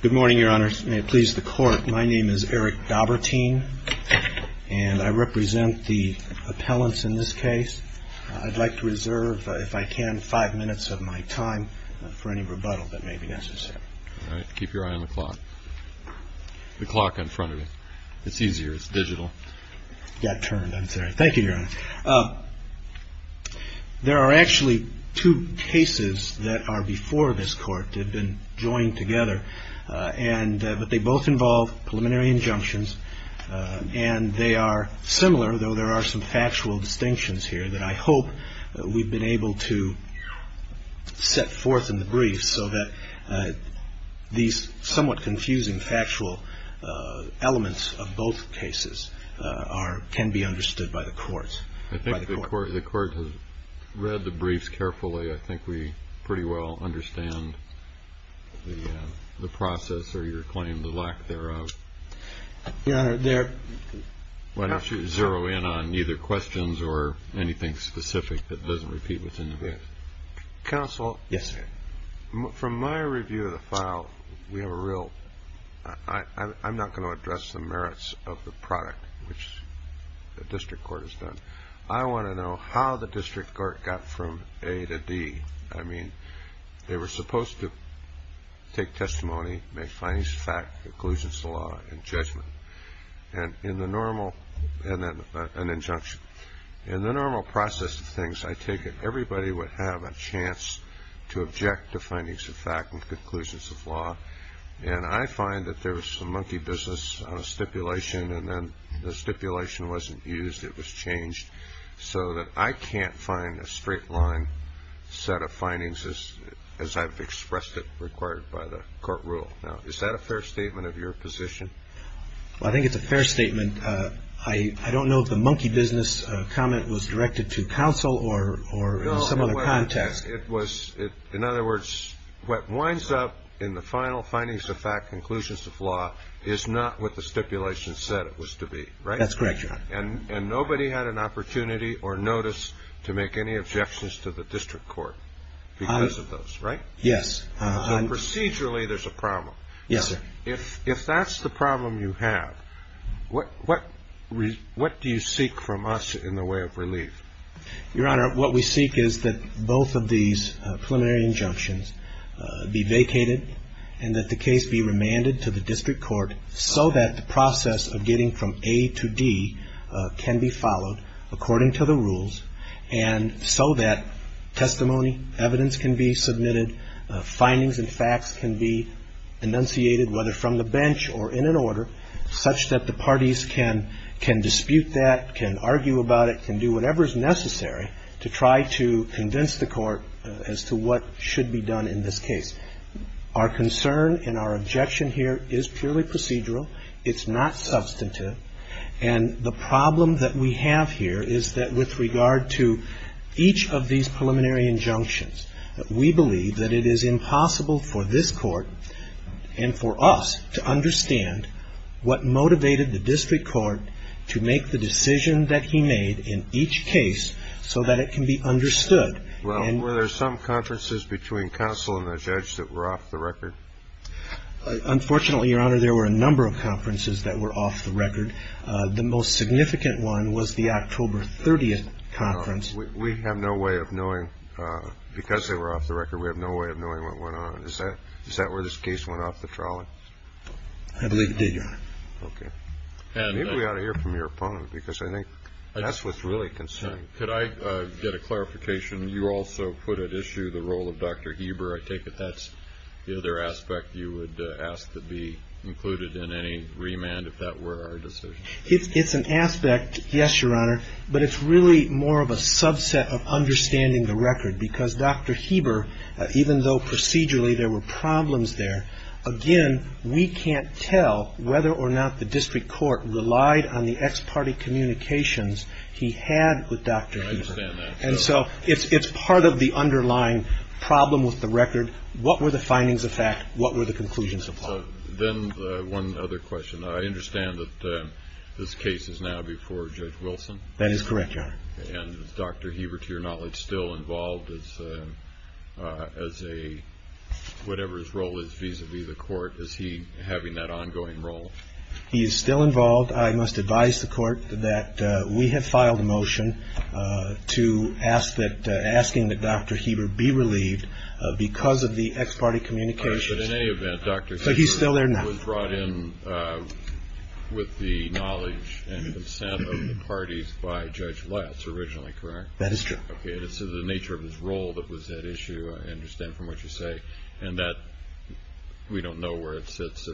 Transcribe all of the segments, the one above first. Good morning, Your Honor. May it please the Court, my name is Eric Daubertein, and I represent the appellants in this case. I'd like to reserve, if I can, five minutes of my time for any rebuttal that may be necessary. Keep your eye on the clock. The clock in front of you. It's easier, it's digital. It got turned, I'm sorry. Thank you, Your Honor. There are actually two cases that are before this Court that have been joined together, but they both involve preliminary injunctions, and they are similar, though there are some factual distinctions here that I hope we've been able to set forth in the brief so that these somewhat confusing factual elements of both cases are, can be understood by the Court. I think the Court has read the briefs carefully. I think we pretty well understand the process or your claim, the lack thereof. Your Honor, there... Why don't you zero in on either questions or anything specific that doesn't repeat within the brief? Counsel. Yes, sir. From my review of the file, we have a real... I'm not going to address the merits of the product, which the District Court has done. I want to know how the District Court got from A to D. I mean, they were supposed to take testimony, make findings of fact, conclusions of law, and judgment. And in the normal... and then an injunction. In the normal process of things, I take it everybody would have a chance to object to findings of fact and conclusions of law. And I find that there was some monkey business on a stipulation, and then the stipulation wasn't used, it was changed, so that I can't find a straight line set of findings as I've expressed it required by the Court rule. Now, is that a fair statement of your position? Well, I think it's a fair statement. I don't know if the monkey business comment was directed to counsel or in some other context. No, it was... in other words, what winds up in the final findings of fact, conclusions of law, is not what the stipulation said it was to be, right? That's correct, Your Honor. And nobody had an opportunity or notice to make any objections to the District Court because of those, right? Yes. So procedurally, there's a problem. Yes, sir. If that's the problem you have, what do you seek from us in the way of relief? Your Honor, what we seek is that both of these preliminary injunctions be vacated and that the case be remanded to the District Court so that the process of getting from A to D can be followed according to the rules, and so that testimony, evidence can be submitted, findings and facts can be enunciated, whether from the bench or in an order, such that the parties can dispute that, can argue about it, can do whatever is necessary to try to convince the Court as to what should be done in this case. Our concern and our objection here is purely procedural. It's not substantive. And the problem that we have here is that with regard to each of these preliminary injunctions, we believe that it is impossible for this Court and for us to understand what motivated the District Court to make the decision that he made in each case so that it can be understood. Well, were there some conferences between counsel and the judge that were off the record? Unfortunately, Your Honor, there were a number of conferences that were off the record. We have no way of knowing, because they were off the record, we have no way of knowing what went on. Is that where this case went off the trolley? I believe it did, Your Honor. Okay. Maybe we ought to hear from your opponent, because I think that's what's really concerning. Could I get a clarification? You also put at issue the role of Dr. Heber. I take it that's the other aspect you would ask to be included in any remand, if that were our decision. It's an aspect, yes, Your Honor, but it's really more of a subset of understanding the record, because Dr. Heber, even though procedurally there were problems there, again, we can't tell whether or not the District Court relied on the ex parte communications he had with Dr. Heber. I understand that. And so it's part of the underlying problem with the record. What were the findings of fact? What were the conclusions of fact? Then one other question. I understand that this case is now before Judge Wilson? That is correct, Your Honor. And is Dr. Heber, to your knowledge, still involved as a, whatever his role is vis-a-vis the Court? Is he having that ongoing role? He is still involved. I must advise the Court that we have filed a motion asking that Dr. Heber be relieved because of the ex parte communications. But in any event, Dr. Heber was brought in with the knowledge and consent of the parties by Judge Lutz originally, correct? That is true. Okay, and it's the nature of his role that was at issue, I understand from what you say, and that we don't know where it sits.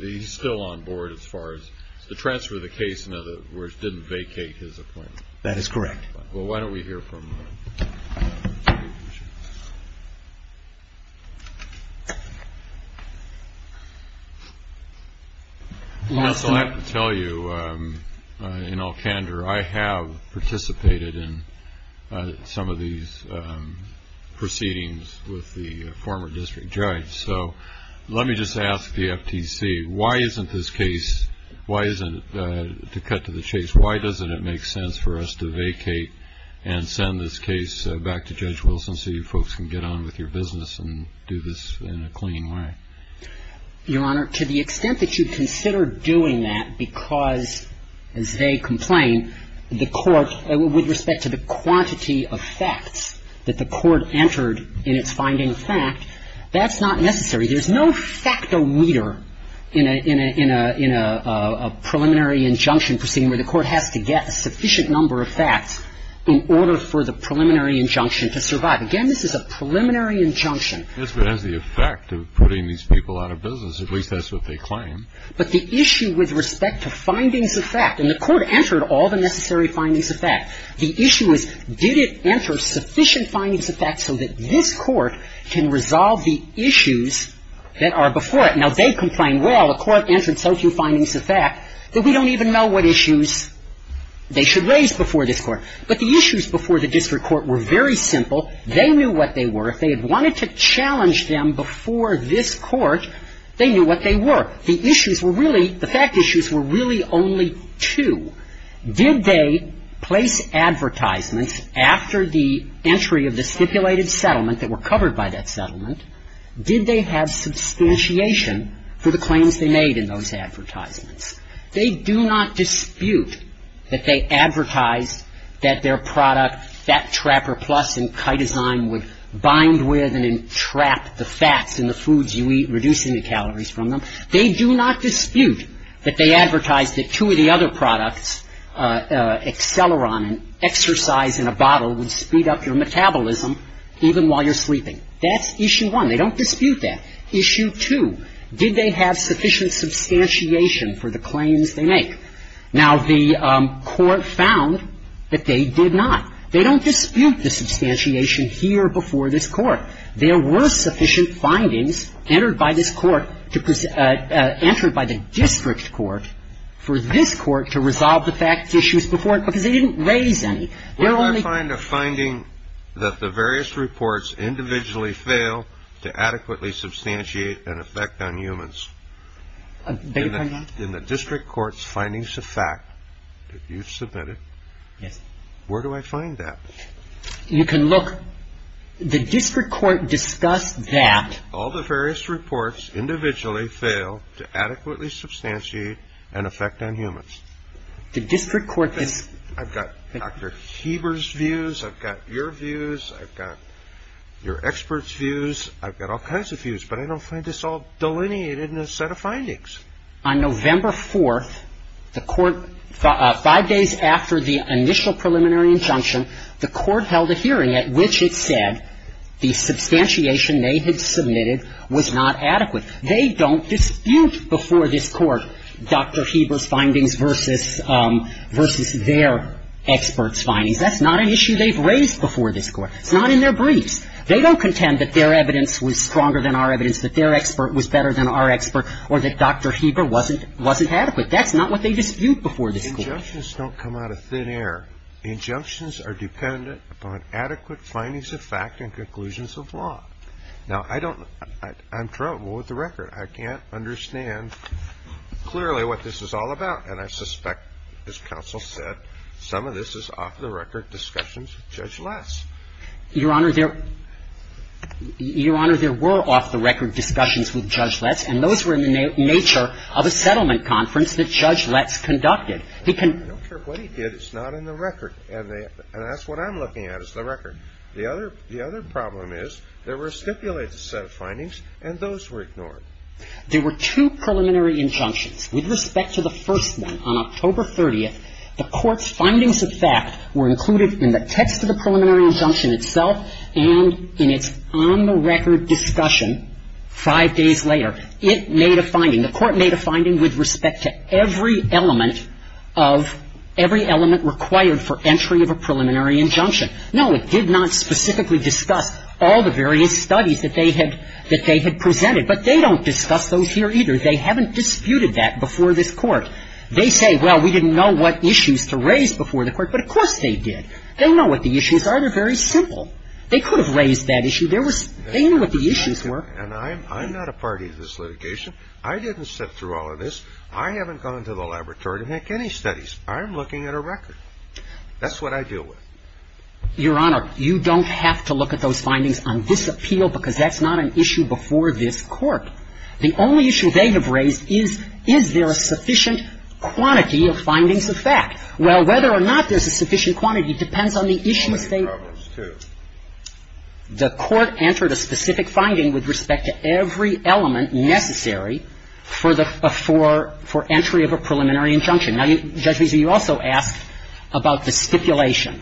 He's still on board as far as the transfer of the case, in other words, didn't vacate his appointment. That is correct. Well, why don't we hear from Judge Wilson? Well, I have to tell you, in all candor, I have participated in some of these proceedings with the former district judge. So let me just ask the FTC, why isn't this case, why isn't it, to cut to the chase, why doesn't it make sense for us to vacate and send this case back to Judge Wilson so you folks can get on with your business and do this in a clean way? Your Honor, to the extent that you consider doing that because, as they complain, the Court, with respect to the quantity of facts that the Court entered in its finding of fact, that's not necessary. There's no facto meter in a preliminary injunction proceeding where the Court has to get a sufficient number of facts in order for the preliminary injunction to survive. Again, this is a preliminary injunction. Yes, but as the effect of putting these people out of business, at least that's what they claim. But the issue with respect to findings of fact, and the Court entered all the necessary findings of fact. The issue is, did it enter sufficient findings of fact so that this Court can resolve the issues that are before it? Now, they complain, well, the Court entered so few findings of fact that we don't even know what issues they should raise before this Court. But the issues before the district court were very simple. They knew what they were. If they had wanted to challenge them before this Court, they knew what they were. The issues were really, the fact issues were really only two. Did they place advertisements after the entry of the stipulated settlement that were covered by that settlement? Did they have substantiation for the claims they made in those advertisements? They do not dispute that they advertised that their product, Fat Trapper Plus and Kydesign would bind with and entrap the fats in the foods you eat, reducing the calories from them. They do not dispute that they advertised that two of the other products, Acceleron and Exercise in a Bottle, would speed up your metabolism even while you're sleeping. That's issue one. They don't dispute that. Issue two, did they have sufficient substantiation for the claims they make? Now, the Court found that they did not. They don't dispute the substantiation here before this Court. There were sufficient findings entered by this Court to enter by the district court for this Court to resolve the fact issues before, because they didn't raise any. Where do I find a finding that the various reports individually fail to adequately substantiate an effect on humans? Beg your pardon? In the district court's findings of fact that you submitted. Yes. Where do I find that? You can look, the district court discussed that. All the various reports individually fail to adequately substantiate an effect on humans. The district court is. I've got Dr. Heber's views. I've got your views. I've got your experts' views. I've got all kinds of views, but I don't find this all delineated in a set of findings. On November 4th, the Court, five days after the initial preliminary injunction, the Court submitted, was not adequate. They don't dispute before this Court Dr. Heber's findings versus their experts' findings. That's not an issue they've raised before this Court. It's not in their briefs. They don't contend that their evidence was stronger than our evidence, that their expert was better than our expert, or that Dr. Heber wasn't adequate. That's not what they dispute before this Court. Injunctions don't come out of thin air. Injunctions are dependent upon adequate findings of fact and conclusions of law. Now, I don't – I'm troubled with the record. I can't understand clearly what this is all about. And I suspect, as counsel said, some of this is off-the-record discussions with Judge Letts. Your Honor, there – Your Honor, there were off-the-record discussions with Judge Letts, and those were in the nature of a settlement conference that Judge Letts conducted. He can – I don't care what he did. It's not in the record. And that's what I'm looking at is the record. The other – the other problem is there were stipulated set of findings, and those were ignored. There were two preliminary injunctions. With respect to the first one, on October 30th, the Court's findings of fact were included in the text of the preliminary injunction itself and in its on-the-record discussion five days later. It made a finding. The Court made a finding with respect to every element of – every element required for entry of a preliminary injunction. No, it did not specifically discuss all the various studies that they had – that they had presented. But they don't discuss those here either. They haven't disputed that before this Court. They say, well, we didn't know what issues to raise before the Court. But, of course, they did. They know what the issues are. They're very simple. They could have raised that issue. There was – they knew what the issues were. And I'm – I'm not a party to this litigation. I didn't sift through all of this. I haven't gone into the laboratory to make any studies. I'm looking at a record. That's what I deal with. Your Honor, you don't have to look at those findings on this appeal because that's not an issue before this Court. The only issue they have raised is, is there a sufficient quantity of findings of fact? Well, whether or not there's a sufficient quantity depends on the issues they raise. The Court entered a specific finding with respect to every element necessary for the – for – for entry of a preliminary injunction. Now, Judge Visa, you also asked about the stipulation.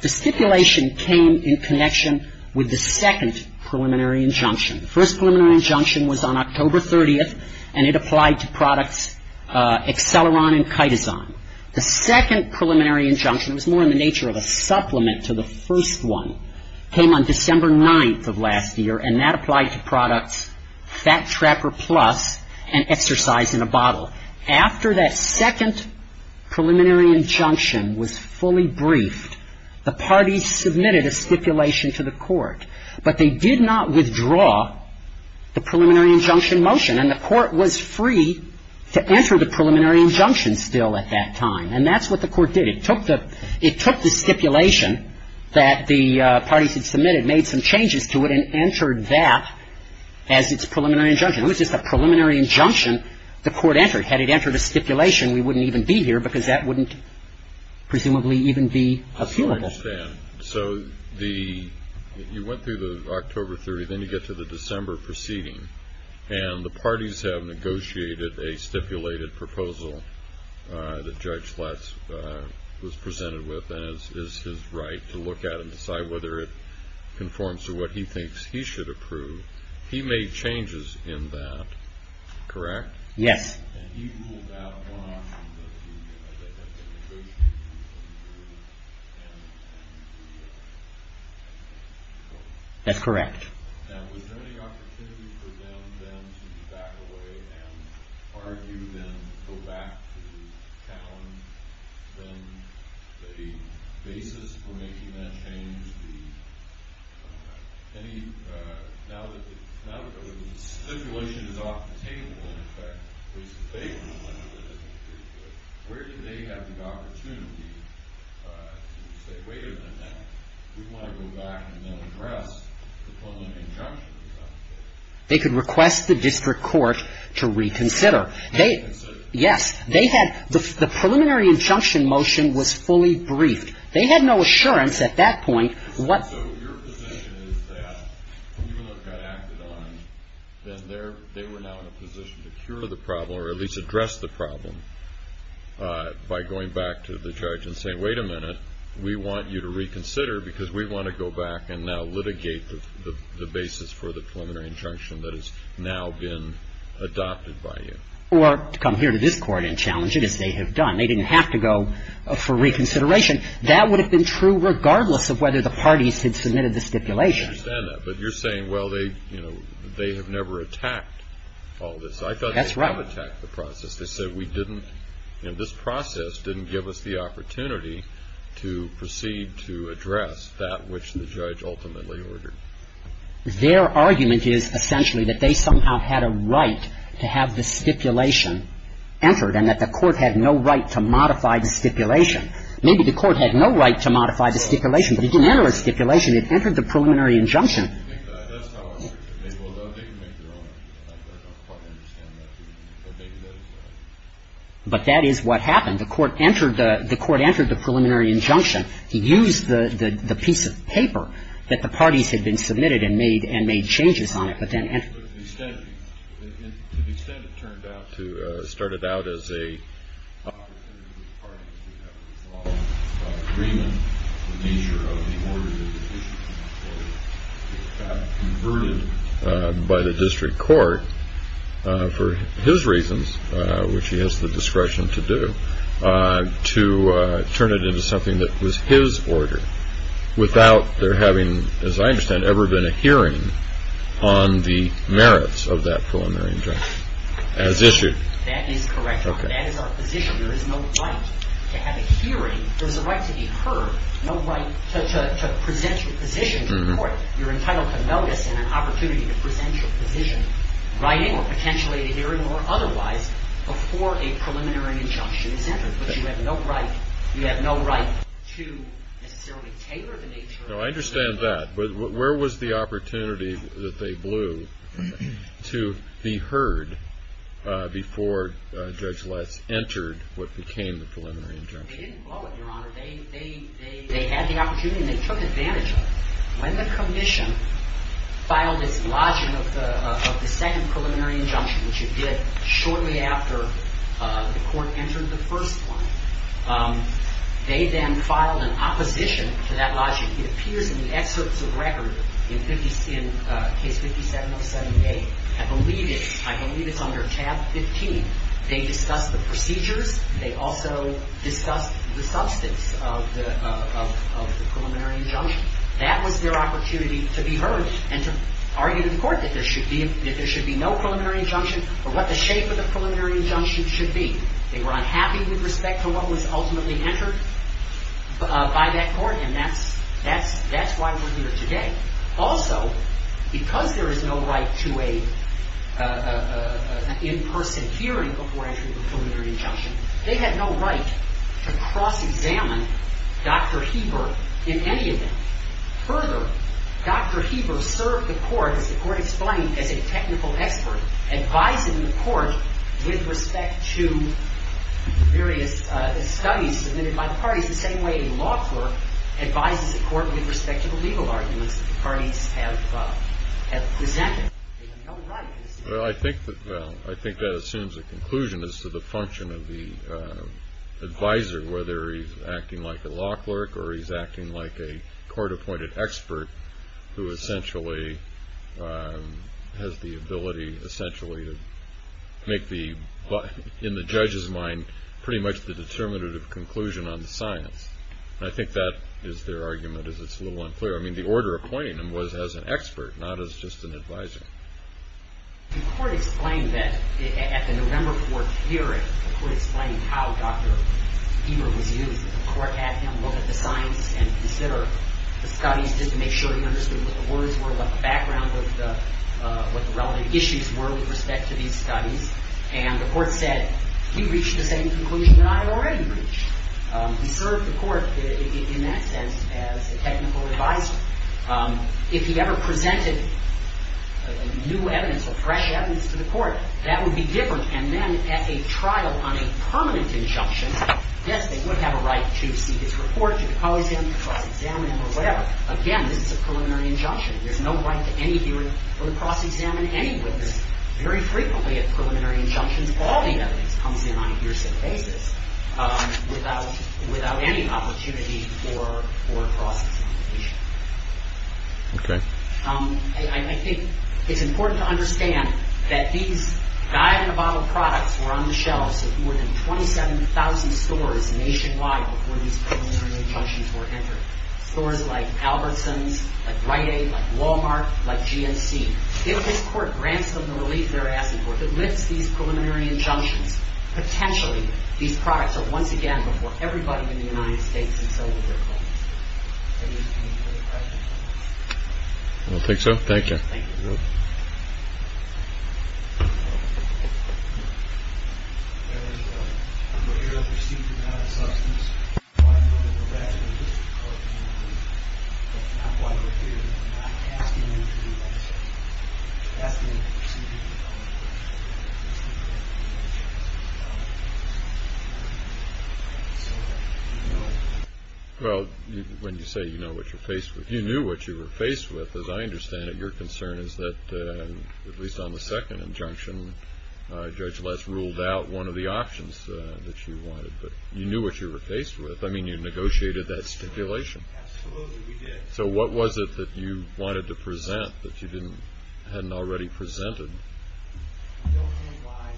The stipulation came in connection with the second preliminary injunction. The first preliminary injunction was on October 30th, and it applied to products Exceleron and Kytazan. The second preliminary injunction – it was more in the nature of a supplement to the first one – came on December 9th of last year, and that applied to products Fat Trapper Plus and Exercise in a Bottle. After that second preliminary injunction was fully briefed, the parties submitted a stipulation to the Court, but they did not withdraw the preliminary injunction motion, and the Court was free to enter the preliminary injunction still at that time. And that's what the Court did. It took the – it took the stipulation that the parties had submitted, made some changes to it, and entered that as its preliminary injunction. It was just a preliminary injunction the Court entered. Had it entered a stipulation, we wouldn't even be here because that wouldn't presumably even be appealable. I still understand. So the – you went through the October 30th, then you get to the December proceeding, and the parties have negotiated a stipulated proposal that Judge Schlatz was presented with, and it's his right to look at it and decide whether it conforms to what he thinks he should approve. He made changes in that, correct? Yes. And he ruled out one option that he had. They had negotiated to approve and approve that. That's correct. Now, was there any opportunity for them then to back away and argue then, go back to challenge then the basis for making that change? They could request the district court to reconsider. Yes. They had – the preliminary injunction motion was fully briefed. They had no assurance at that point whether they were going to be able to go back and address the preliminary injunction. So your position is that even though it got acted on, then they're – they were now in a position to cure the problem or at least address the problem by going back to the judge and saying, wait a minute, we want you to reconsider because we want to go back and now litigate the basis for the preliminary injunction that has now been adopted by you. Or come here to this Court and challenge it, as they have done. They didn't have to go for reconsideration. That would have been true regardless of whether the parties had submitted the stipulation. I understand that. But you're saying, well, they – you know, they have never attacked all this. That's right. I thought they have attacked the process. They said we didn't – you know, this process didn't give us the opportunity to proceed to address that which the judge ultimately ordered. Their argument is essentially that they somehow had a right to have the stipulation entered and that the Court had no right to modify the stipulation. Maybe the Court had no right to modify the stipulation, but it didn't enter the stipulation. It entered the preliminary injunction. But that is what happened. The Court entered the preliminary injunction. He used the piece of paper that the parties had been submitted and made changes on it. But to the extent it turned out to – it started out as an opportunity for the parties to have a solid agreement on the nature of the order that was issued, it got converted by the district court for his reasons, which he has the discretion to do, to turn it into something that was his order without there having, as I understand, ever been a hearing on the merits of that preliminary injunction as issued. That is correct, Your Honor. That is our position. There is no right to have a hearing. There is a right to be heard, no right to present your position to the Court. You're entitled to notice and an opportunity to present your position, writing or potentially at a hearing or otherwise, before a preliminary injunction is entered. But you have no right to necessarily tailor the nature of the order. No, I understand that. But where was the opportunity that they blew to be heard before Judge Letts entered what became the preliminary injunction? They didn't blow it, Your Honor. They had the opportunity and they took advantage of it. When the condition filed its logic of the second preliminary injunction, which it did shortly after the Court entered the first one, they then filed an opposition to that which appears in the excerpts of record in case 5707A. I believe it's under tab 15. They discussed the procedures. They also discussed the substance of the preliminary injunction. That was their opportunity to be heard and to argue to the Court that there should be no preliminary injunction or what the shape of the preliminary injunction should be. They were unhappy with respect to what was ultimately entered by that Court and that's why we're here today. Also, because there is no right to an in-person hearing before entering a preliminary injunction, they had no right to cross-examine Dr. Heber in any event. Further, Dr. Heber served the Court, as the Court explained, as a technical expert, advising the Court with respect to various studies submitted by the parties, the same way a law clerk advises the Court with respect to the legal arguments that the parties have presented. They had no right. Well, I think that assumes a conclusion as to the function of the advisor, whether he's acting like a law clerk or he's acting like a court-appointed expert who essentially has the ability, essentially, to make the, in the judge's mind, pretty much the determinative conclusion on the science. And I think that is their argument, is it's a little unclear. I mean, the order of appointing him was as an expert, not as just an advisor. The Court explained that at the November 4th hearing, the Court explained how Dr. Heber was used. The Court had him look at the science and consider the studies just to make sure he knew what the relevant issues were with respect to these studies. And the Court said, he reached the same conclusion that I had already reached. He served the Court, in that sense, as a technical advisor. If he ever presented new evidence or fresh evidence to the Court, that would be different. And then at a trial on a permanent injunction, yes, they would have a right to see his report, to cause him to cross-examine him or whatever. Again, this is a preliminary injunction. There's no right to any hearing or to cross-examine any witness. Very frequently at preliminary injunctions, all the evidence comes in on a hearsay basis without any opportunity for cross-examination. Okay. I think it's important to understand that these dive-in-a-bottle products were on the shelves at more than 27,000 stores nationwide before these preliminary injunctions were entered. Stores like Albertsons, like Rite Aid, like Walmart, like GNC. If this Court grants them the relief they're asking for, if it lifts these preliminary injunctions, potentially these products are once again before everybody in the United States and so will their clients. Any further questions? I don't think so. Thank you. Thank you. Thank you. Well, when you say you know what you're faced with, you knew what you were faced with. As I understand it, your concern is that, at least on the second injunction, Judge Less ruled out one of the options that you wanted. But you knew what you were faced with. I mean, you negotiated that stipulation. Absolutely, we did. So what was it that you wanted to present that you hadn't already presented? I don't know why.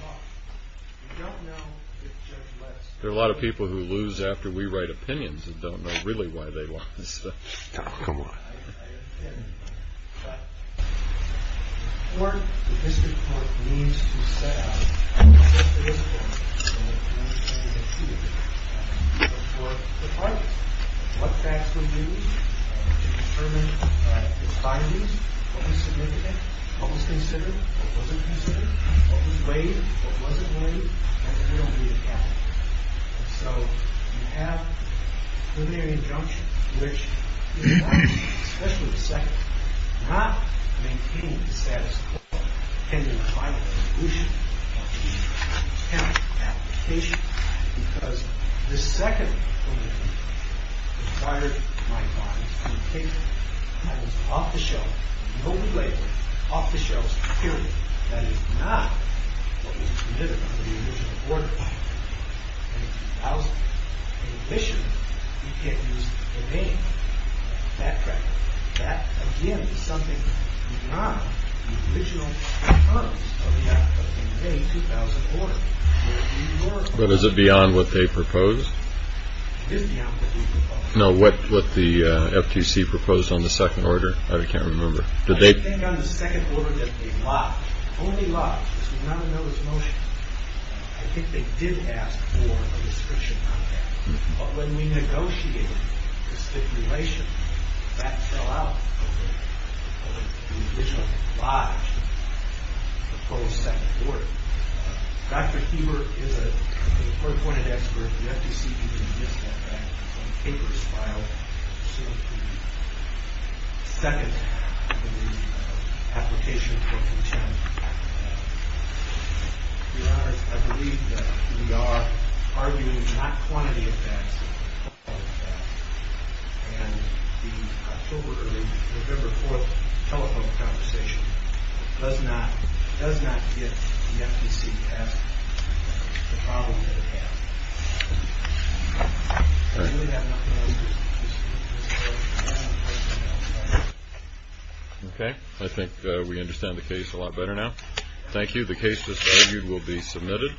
Look, you don't know if Judge Less... There are a lot of people who lose after we write opinions and don't know really why they didn't do it. I understand. But the court, the district court, needs to set out what the discipline is. And I understand you can see it. But for the parties, what facts were used to determine the findings, what was significant, what was considered, what wasn't considered, what was weighed, what wasn't weighed, and there will be a count. So you have a preliminary injunction, which, especially the second, not maintaining the status quo, pending the final resolution of the contempt application, because the second preliminary required my body's communication. I was off the shelf, no belabor, off the shelf security. That is not what was considered for the original order. In addition, you can't use the name. That, again, is something beyond the original terms of the May 2000 order. But is it beyond what they proposed? It is beyond what they proposed. No, what the FTC proposed on the second order, I can't remember. I can think on the second order that they lodged, only lodged. This was not a notice of motion. I think they did ask for a description on that. But when we negotiated the stipulation, that fell out of the original lodge, the proposed second order. Dr. Heber is a third-pointed expert. The FTC didn't miss that fact. I believe that we are arguing not quantity of facts, but quality of facts. And the October, early November 4th telephone conversation does not get the FTC past the problem that it had. All right. Okay. I think we understand the case a lot better now. Thank you. The case is reviewed. We'll be submitted.